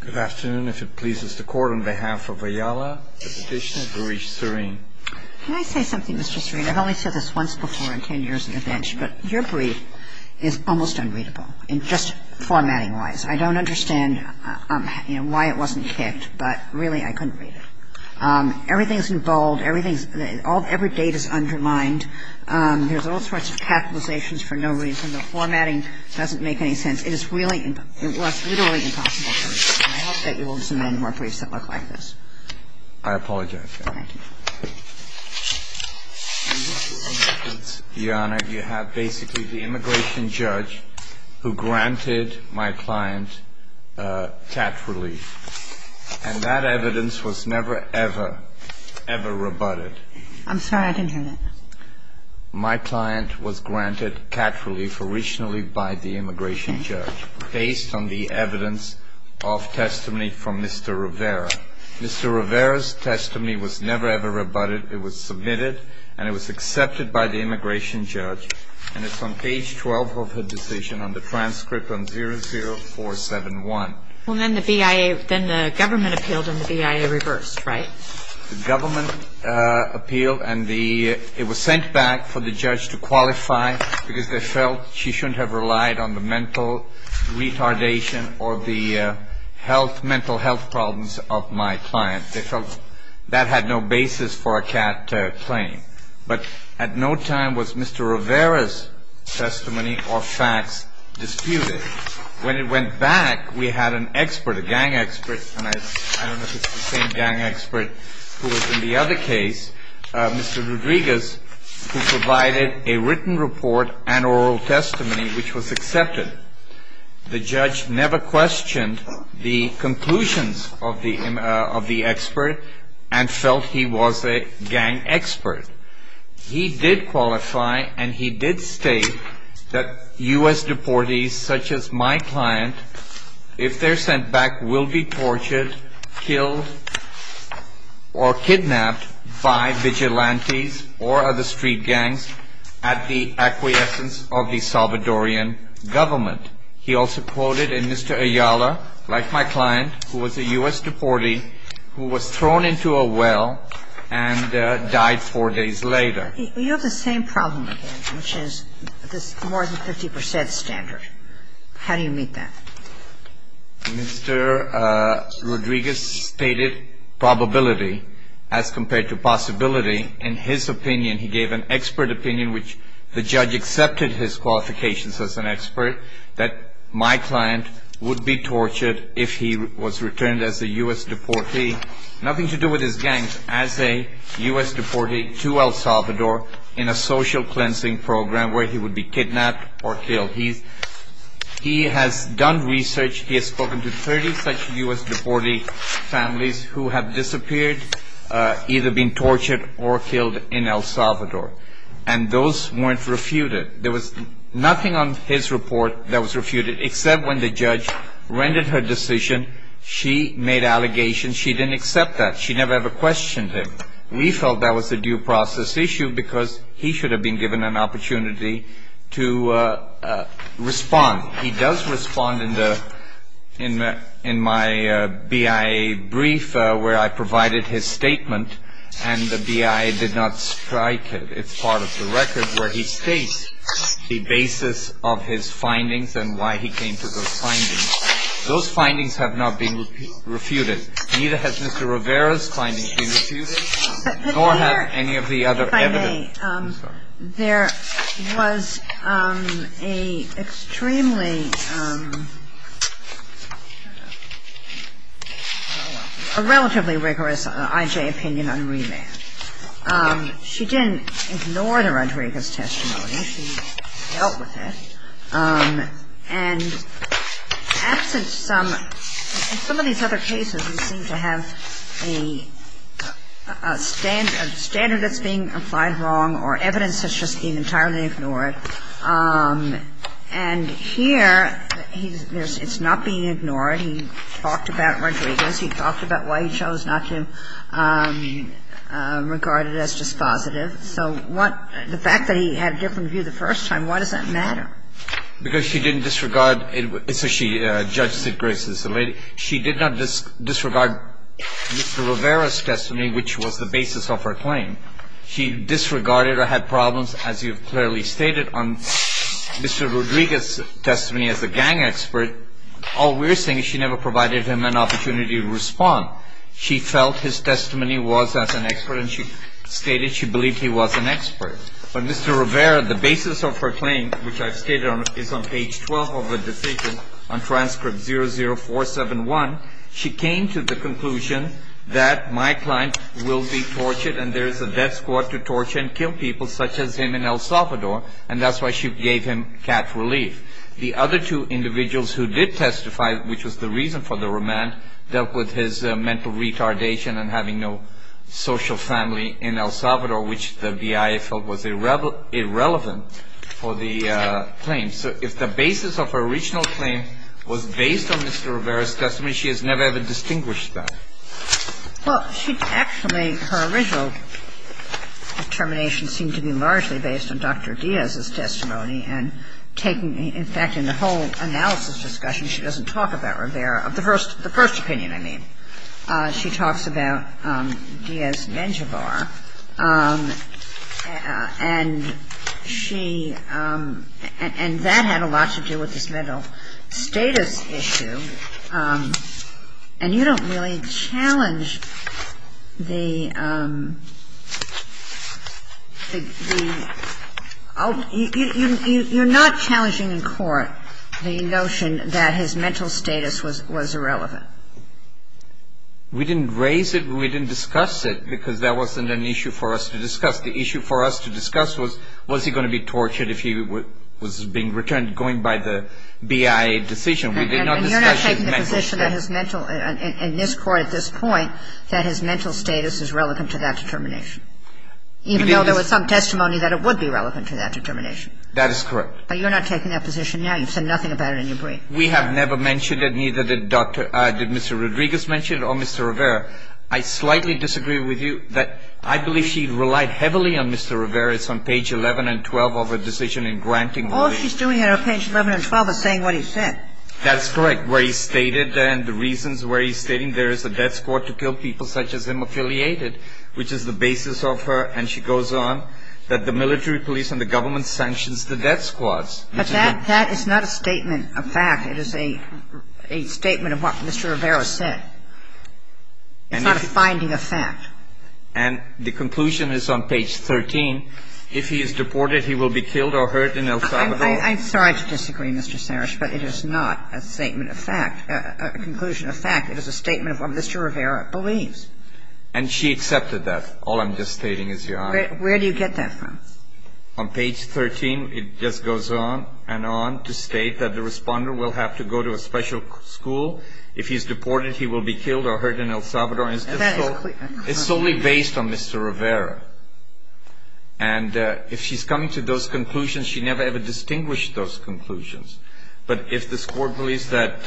Good afternoon. If it pleases the Court, on behalf of Ayala, the petitioner, Baris Serene. Can I say something, Mr. Serene? I've only said this once before in 10 years on the bench, but your brief is almost unreadable, just formatting-wise. I don't understand why it wasn't kicked, but really I couldn't read it. Everything is in bold, every date is undermined, there's all sorts of capitalizations for no reason, the formatting doesn't make any sense. It is really, it was literally impossible for me. I hope that you will disamend more briefs that look like this. I apologize, Your Honor. Thank you. Your Honor, you have basically the immigration judge who granted my client cat relief, and that evidence was never, ever, ever rebutted. I'm sorry, I didn't hear that. My client was granted cat relief originally by the immigration judge, based on the evidence of testimony from Mr. Rivera. Mr. Rivera's testimony was never, ever rebutted. It was submitted, and it was accepted by the immigration judge, and it's on page 12 of her decision, on the transcript, on 00471. Well, then the BIA, then the government appealed, and the BIA reversed, right? The government appealed, and it was sent back for the judge to qualify, because they felt she shouldn't have relied on the mental retardation or the mental health problems of my client. They felt that had no basis for a cat claim. But at no time was Mr. Rivera's testimony or facts disputed. When it went back, we had an expert, a gang expert, and I don't know if it's the same gang expert who was in the other case, Mr. Rodriguez, who provided a written report and oral testimony, which was accepted. The judge never questioned the conclusions of the expert and felt he was a gang expert. He did qualify, and he did state that U.S. deportees such as my client, if they're sent back, will be tortured, killed, or kidnapped by vigilantes or other street gangs at the acquiescence of the Salvadorian government. He also quoted in Mr. Ayala, like my client, who was a U.S. deportee who was thrown into a well and died four days later. You have the same problem again, which is this more than 50 percent standard. How do you meet that? Mr. Rodriguez stated probability as compared to possibility. In his opinion, he gave an expert opinion, which the judge accepted his qualifications as an expert, that my client would be tortured if he was returned as a U.S. deportee. Nothing to do with his gangs. As a U.S. deportee to El Salvador in a social cleansing program where he would be kidnapped or killed. He has done research. He has spoken to 30 such U.S. deportee families who have disappeared, either been tortured or killed in El Salvador. And those weren't refuted. There was nothing on his report that was refuted, except when the judge rendered her decision. She made allegations. She didn't accept that. She never ever questioned him. We felt that was a due process issue because he should have been given an opportunity to respond. He does respond in the in in my BIA brief where I provided his statement and the BIA did not strike it. It's part of the record where he states the basis of his findings and why he came to those findings. Those findings have not been refuted. Neither has Mr. Rivera's findings been refuted, nor have any of the other evidence. But there, if I may, there was a extremely, a relatively rigorous I.J. opinion on remand. She didn't ignore the Rodriguez testimony. She dealt with it. And absent some, in some of these other cases, we seem to have a standard that's being applied wrong or evidence that's just being entirely ignored. And here, he's, it's not being ignored. He talked about Rodriguez. He talked about why he chose not to regard it as dispositive. So what, the fact that he had a different view the first time, why does that matter? Because she didn't disregard, so she, Judge Sidgraves is the lady. She did not disregard Mr. Rivera's testimony, which was the basis of her claim. She disregarded or had problems, as you've clearly stated, on Mr. Rodriguez's testimony as a gang expert. All we're saying is she never provided him an opportunity to respond. She felt his testimony was as an expert, and she stated she believed he was an expert. But Mr. Rivera, the basis of her claim, which I've stated on, is on page 12 of her decision on transcript 00471. She came to the conclusion that my client will be tortured, and there is a death squad to torture and kill people such as him in El Salvador. And that's why she gave him cat relief. The other two individuals who did testify, which was the reason for the remand, dealt with his mental retardation and having no social family in El Salvador, which the BIA felt was irrelevant for the claim. So if the basis of her original claim was based on Mr. Rivera's testimony, she has never, ever distinguished that. Well, she actually, her original determination seemed to be largely based on Dr. Diaz's testimony. And taking, in fact, in the whole analysis discussion, she doesn't talk about Rivera. The first opinion, I mean. She talks about Diaz and Echavar. And she, and that had a lot to do with his mental status issue. And you don't really challenge the, you're not challenging in court the notion that his mental status was irrelevant. We didn't raise it, we didn't discuss it, because that wasn't an issue for us to discuss. The issue for us to discuss was, was he going to be tortured if he was being returned, going by the BIA decision. We did not discuss his mental status. And you're not taking the position that his mental, in this court at this point, that his mental status is relevant to that determination. Even though there was some testimony that it would be relevant to that determination. That is correct. But you're not taking that position now. You've said nothing about it in your brief. We have never mentioned it, neither did Dr., did Mr. Rodriguez mention it or Mr. Rivera. I slightly disagree with you that I believe she relied heavily on Mr. Rivera's on page 11 and 12 of her decision in granting. All she's doing on page 11 and 12 is saying what he said. That's correct. Where he stated, and the reasons where he's stating there is a death squad to kill people such as him affiliated, which is the basis of her. And she goes on that the military police and the government sanctions the death squads. But that is not a statement of fact. It is a statement of what Mr. Rivera said. It's not a finding of fact. And the conclusion is on page 13. If he is deported, he will be killed or hurt in El Salvador. I'm sorry to disagree, Mr. Sarrish, but it is not a statement of fact, a conclusion of fact. It is a statement of what Mr. Rivera believes. And she accepted that. All I'm just stating is your honor. Where do you get that from? On page 13, it just goes on and on to state that the responder will have to go to a special school. If he's deported, he will be killed or hurt in El Salvador. It's solely based on Mr. Rivera. And if she's coming to those conclusions, she never ever distinguished those conclusions. But if this Court believes that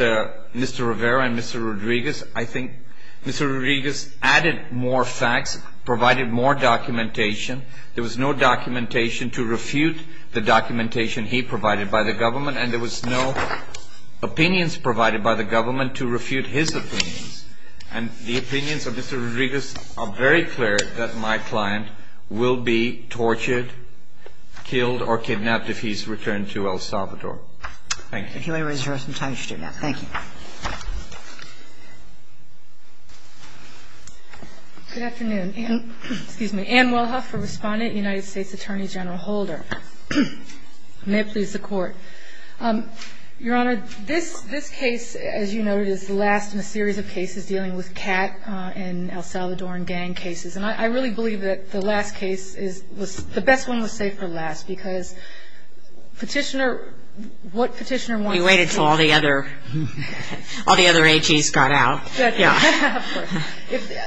Mr. Rivera and Mr. Rodriguez, I think Mr. Rodriguez added more facts, provided more documentation. There was no documentation to refute the documentation he provided by the government. And there was no opinions provided by the government to refute his opinions. And the opinions of Mr. Rodriguez are very clear that my client will be tortured, killed or kidnapped if he's returned to El Salvador. Thank you. If you may raise your right hand. Thank you. Good afternoon. I'm Ann Wilhuff, a respondent, United States Attorney General Holder. May it please the Court. Your Honor, this case, as you noted, is the last in a series of cases dealing with CAT and El Salvadoran gang cases. And I really believe that the last case is the best one was saved for last because Petitioner, what Petitioner wants to say. We waited until all the other AGs got out.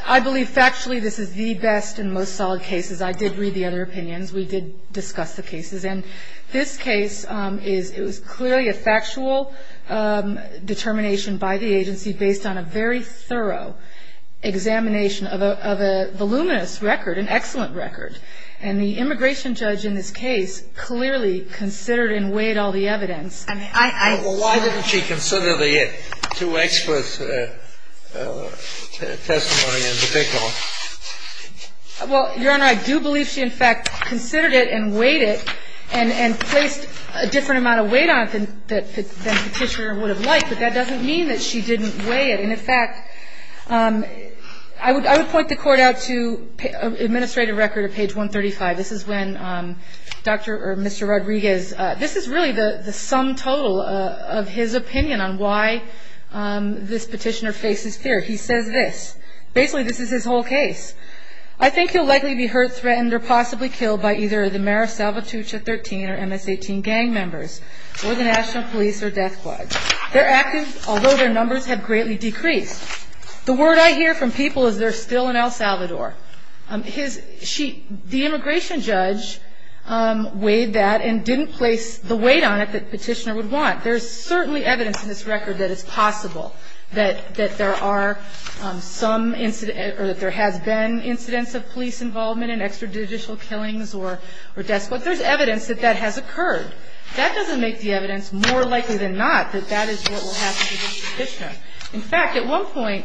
I believe factually this is the best and most solid cases. I did read the other opinions. We did discuss the cases. And this case is clearly a factual determination by the agency based on a very thorough examination of a voluminous record, an excellent record. And the immigration judge in this case clearly considered and weighed all the evidence. Well, why didn't she consider the two experts' testimony in particular? Well, Your Honor, I do believe she, in fact, considered it and weighed it and placed a different amount of weight on it than Petitioner would have liked. But that doesn't mean that she didn't weigh it. And, in fact, I would point the Court out to administrative record at page 135. This is when Dr. or Mr. Rodriguez, this is really the sum total of his opinion on why this petitioner faces fear. He says this. Basically, this is his whole case. I think he'll likely be hurt, threatened, or possibly killed by either the Mara Salvatrucha 13 or MS-18 gang members or the National Police or death squad. They're active, although their numbers have greatly decreased. The word I hear from people is they're still in El Salvador. The immigration judge weighed that and didn't place the weight on it that Petitioner would want. There's certainly evidence in this record that it's possible that there are some incidents or that there has been incidents of police involvement in extrajudicial killings or deaths. But there's evidence that that has occurred. That doesn't make the evidence more likely than not that that is what will happen to Petitioner. In fact, at one point,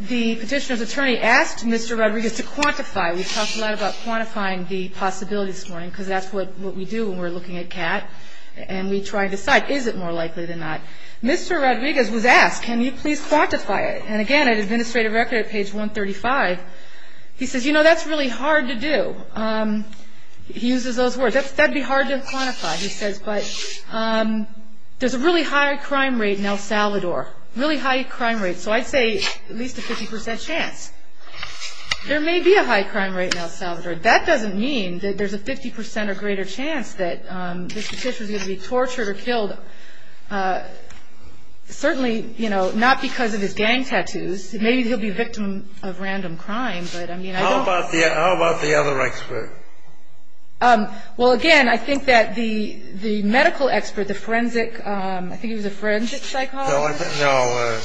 the Petitioner's attorney asked Mr. Rodriguez to quantify. We talked a lot about quantifying the possibilities this morning because that's what we do when we're looking at CAT. And we try to decide, is it more likely than not? Mr. Rodriguez was asked, can you please quantify it? And again, at administrative record at page 135, he says, you know, that's really hard to do. He uses those words. That would be hard to quantify, he says. But there's a really high crime rate in El Salvador, really high crime rate. So I'd say at least a 50 percent chance. There may be a high crime rate in El Salvador. That doesn't mean that there's a 50 percent or greater chance that this Petitioner is going to be tortured or killed. Certainly, you know, not because of his gang tattoos. Maybe he'll be a victim of random crime. How about the other expert? Well, again, I think that the medical expert, the forensic, I think he was a forensic psychologist. No.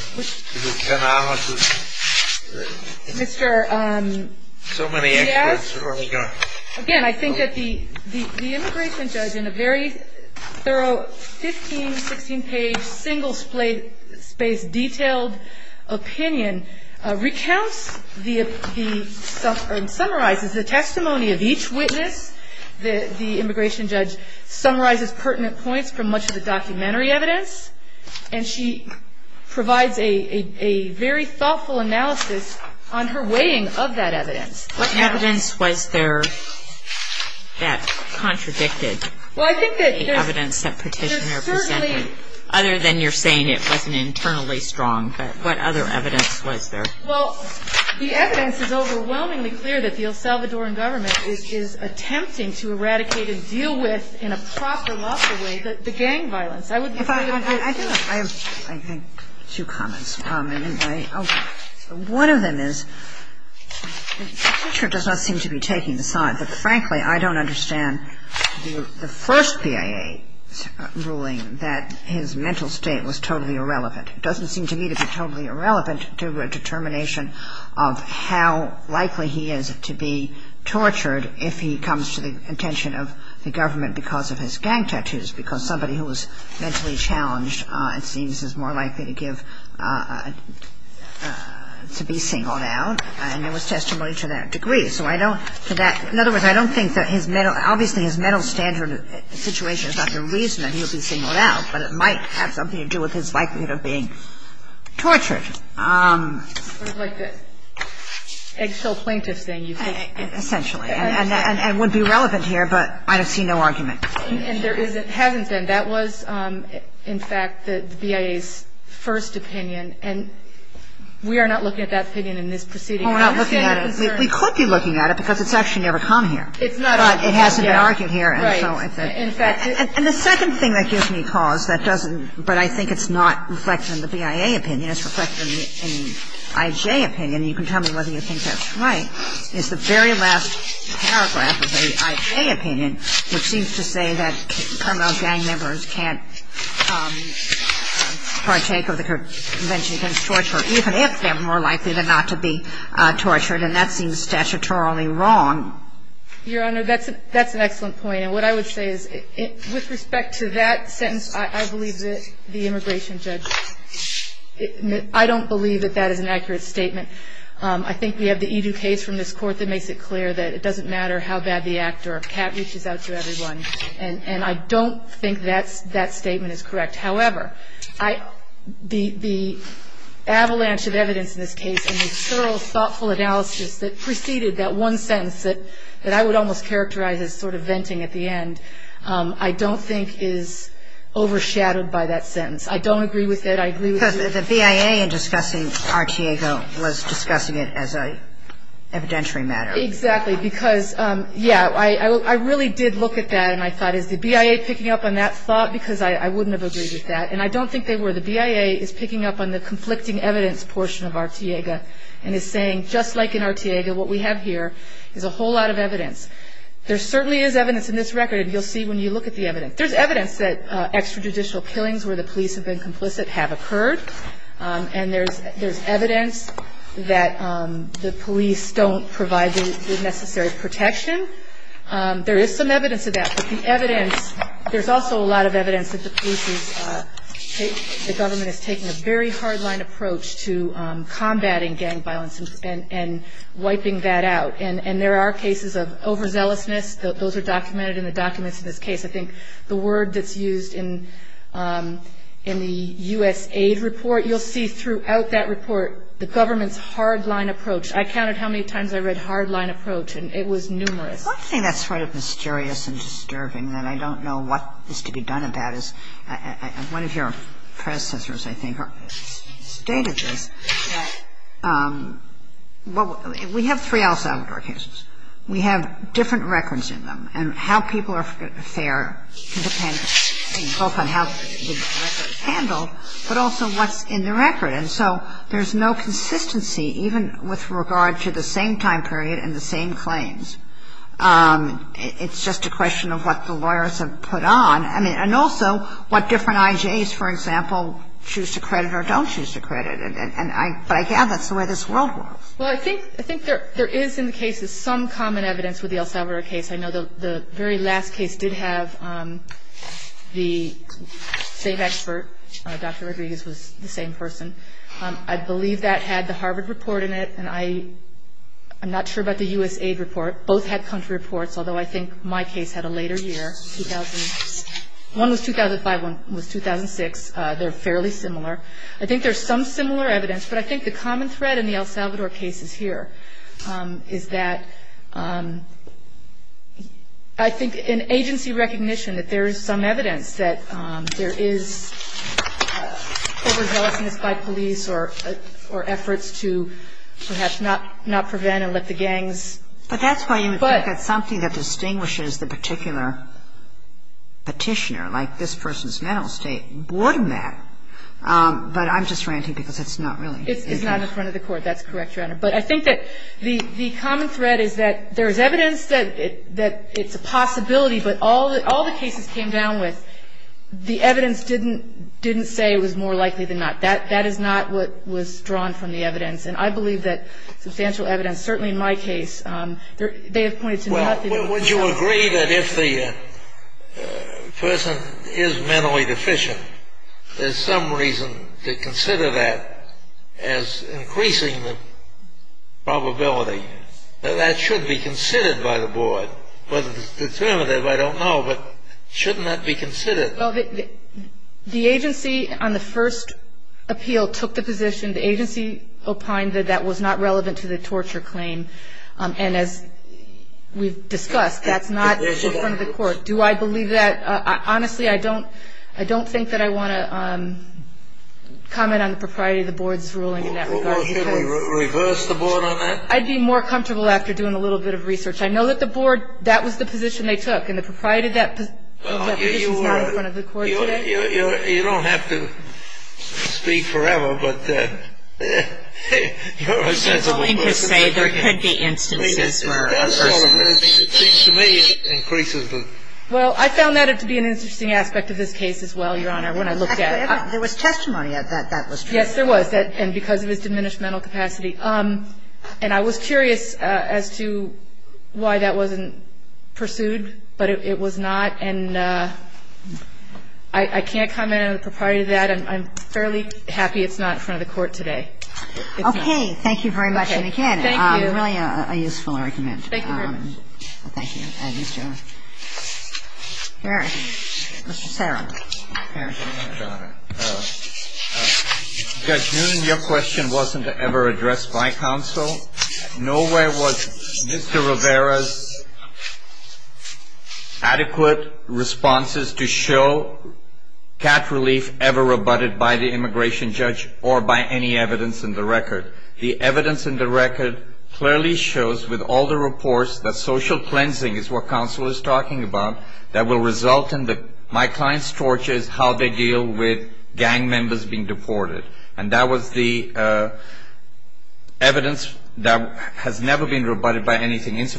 Mr. Riaz? Again, I think that the immigration judge in a very thorough 15, 16-page, single-spaced, detailed opinion recounts the stuff and summarizes the testimony of each witness. The immigration judge summarizes pertinent points from much of the documentary evidence. And she provides a very thoughtful analysis on her weighing of that evidence. What evidence was there that contradicted the evidence that Petitioner presented, other than you're saying it wasn't internally strong? But what other evidence was there? Well, the evidence is overwhelmingly clear that the El Salvadoran government is attempting to eradicate and deal with in a proper, lawful way the gang violence. I would say that there are two. I have, I think, two comments. One of them is Petitioner does not seem to be taking the side. But, frankly, I don't understand the first PIA ruling that his mental state was totally irrelevant. It doesn't seem to me to be totally irrelevant to a determination of how likely he is to be tortured if he comes to the attention of the government because of his gang tattoos, because somebody who was mentally challenged, it seems, is more likely to give, to be singled out. And there was testimony to that degree. So I don't think that, in other words, I don't think that his mental, obviously, his mental standard situation is not the reason that he would be singled out, but it might have something to do with his likelihood of being tortured. It's like the eggshell plaintiff thing. Essentially. And it would be relevant here, but I see no argument. And there isn't, hasn't been. That was, in fact, the BIA's first opinion. And we are not looking at that opinion in this proceeding. We're not looking at it. We could be looking at it because it's actually never come here. But it hasn't been argued here. And the second thing that gives me cause that doesn't, but I think it's not reflected in the BIA opinion, it's reflected in the IJ opinion, and you can tell me whether you think that's right, is the very last paragraph of the IJ opinion, which seems to say that criminal gang members can't partake of the Convention Against Torture even if they're more likely than not to be tortured. And that seems statutorily wrong. Your Honor, that's an excellent point. And what I would say is with respect to that sentence, I believe that the immigration judge, I don't believe that that is an accurate statement. I think we have the edu case from this Court that makes it clear that it doesn't matter how bad the act or a cat reaches out to everyone. And I don't think that statement is correct. However, the avalanche of evidence in this case and the thorough, thoughtful analysis that preceded that one sentence that I would almost characterize as sort of venting at the end, I don't think is overshadowed by that sentence. I don't agree with it. I agree with you. Because the BIA in discussing Artiego was discussing it as an evidentiary matter. Exactly. Because, yeah, I really did look at that and I thought is the BIA picking up on that thought because I wouldn't have agreed with that. And I don't think they were. The BIA is picking up on the conflicting evidence portion of Artiego and is saying just like in Artiego, what we have here is a whole lot of evidence. There certainly is evidence in this record, and you'll see when you look at the evidence. There's evidence that extrajudicial killings where the police have been complicit have occurred. And there's evidence that the police don't provide the necessary protection. There is some evidence of that. But the evidence, there's also a lot of evidence that the government is taking a very hard line approach to combating gang violence and wiping that out. And there are cases of overzealousness. Those are documented in the documents in this case. I think the word that's used in the USAID report, you'll see throughout that report the government's hard line approach. I counted how many times I read hard line approach, and it was numerous. But one thing that's sort of mysterious and disturbing that I don't know what is to be done about is one of your predecessors, I think, stated this, that we have three El Salvador cases. We have different records in them, and how people are fair can depend both on how the record is handled, but also what's in the record. And so there's no consistency even with regard to the same time period and the same claims. It's just a question of what the lawyers have put on. And also what different IJs, for example, choose to credit or don't choose to credit. But I gather that's the way this world works. Well, I think there is in the cases some common evidence with the El Salvador case. I know the very last case did have the same expert. Dr. Rodriguez was the same person. I believe that had the Harvard report in it, and I'm not sure about the USAID report. Both had country reports, although I think my case had a later year. One was 2005, one was 2006. They're fairly similar. I think there's some similar evidence, but I think the common thread in the El Salvador cases here is that I think in agency recognition that there is some evidence that there is overzealousness by police or efforts to perhaps not prevent and let the gangs. But that's why you would think that something that distinguishes the particular petitioner, like this person's mental state, would matter. But I'm just ranting because it's not really. It's not in front of the court. That's correct, Your Honor. But I think that the common thread is that there is evidence that it's a possibility, but all the cases came down with, the evidence didn't say it was more likely than not. That is not what was drawn from the evidence. And I believe that substantial evidence, certainly in my case, they have pointed to nothing. Well, would you agree that if the person is mentally deficient, there's some reason to consider that as increasing the probability? That should be considered by the board. Whether it's determinative, I don't know, but shouldn't that be considered? Well, the agency on the first appeal took the position. The agency opined that that was not relevant to the torture claim. And as we've discussed, that's not in front of the court. Do I believe that? Honestly, I don't think that I want to comment on the propriety of the board's ruling in that regard. Well, should we reverse the board on that? I'd be more comfortable after doing a little bit of research. I know that the board, that was the position they took. And the propriety of that position is not in front of the court today. You don't have to speak forever, but you're a sensible person. You're willing to say there could be instances where a person is. That's all it is. It seems to me it increases the ---- Well, I found that to be an interesting aspect of this case as well, Your Honor, when I looked at it. There was testimony that that was true. Yes, there was. And because of his diminished mental capacity. And I was curious as to why that wasn't pursued. But it was not. And I can't comment on the propriety of that. I'm fairly happy it's not in front of the court today. Okay. Thank you very much, and again, really a useful argument. Thank you, Your Honor. Thank you. Thank you, Your Honor. Mr. Sarah. Judge Noonan, your question wasn't ever addressed by counsel. Nowhere was Mr. Rivera's adequate responses to show cat relief ever rebutted by the immigration judge or by any evidence in the record. The evidence in the record clearly shows with all the reports that social cleansing is what counsel is talking about that will result in my client's torture is how they deal with gang members being deported. And that was the evidence that has never been rebutted by anything. As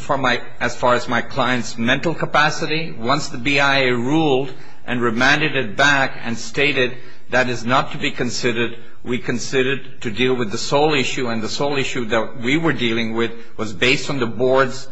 far as my client's mental capacity, once the BIA ruled and remanded it back and stated that is not to be considered, we considered to deal with the sole issue, and the sole issue that we were dealing with was based on the board's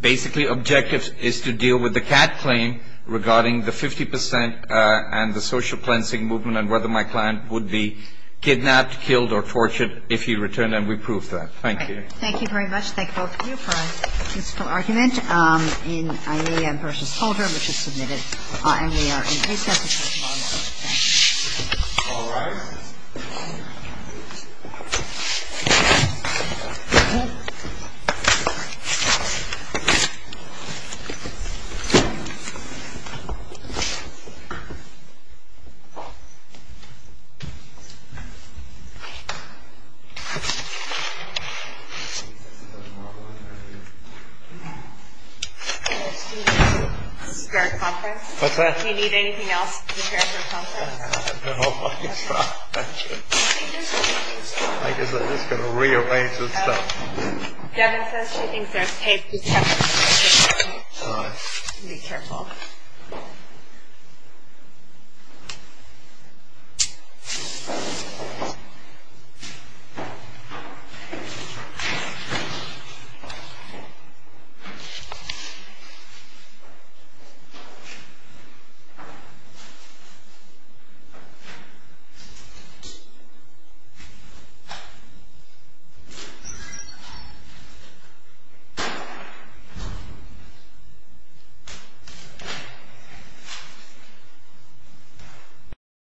basically objective is to deal with the cat claim regarding the 50 percent and the social cleansing movement and whether my client would be kidnapped, killed, or tortured if he returned, and we proved that. Thank you. All right. Thank you very much. Thank both of you for a useful argument in Aelia v. Holder, which was submitted, and we are in recess until tomorrow night. Thank you. All right. Is there a conference? What's that? Do you need anything else to prepare for a conference? No, I'm fine. I guess I'm just going to rearrange this stuff. Devin says she thinks there's tape. All right. Be careful. All right.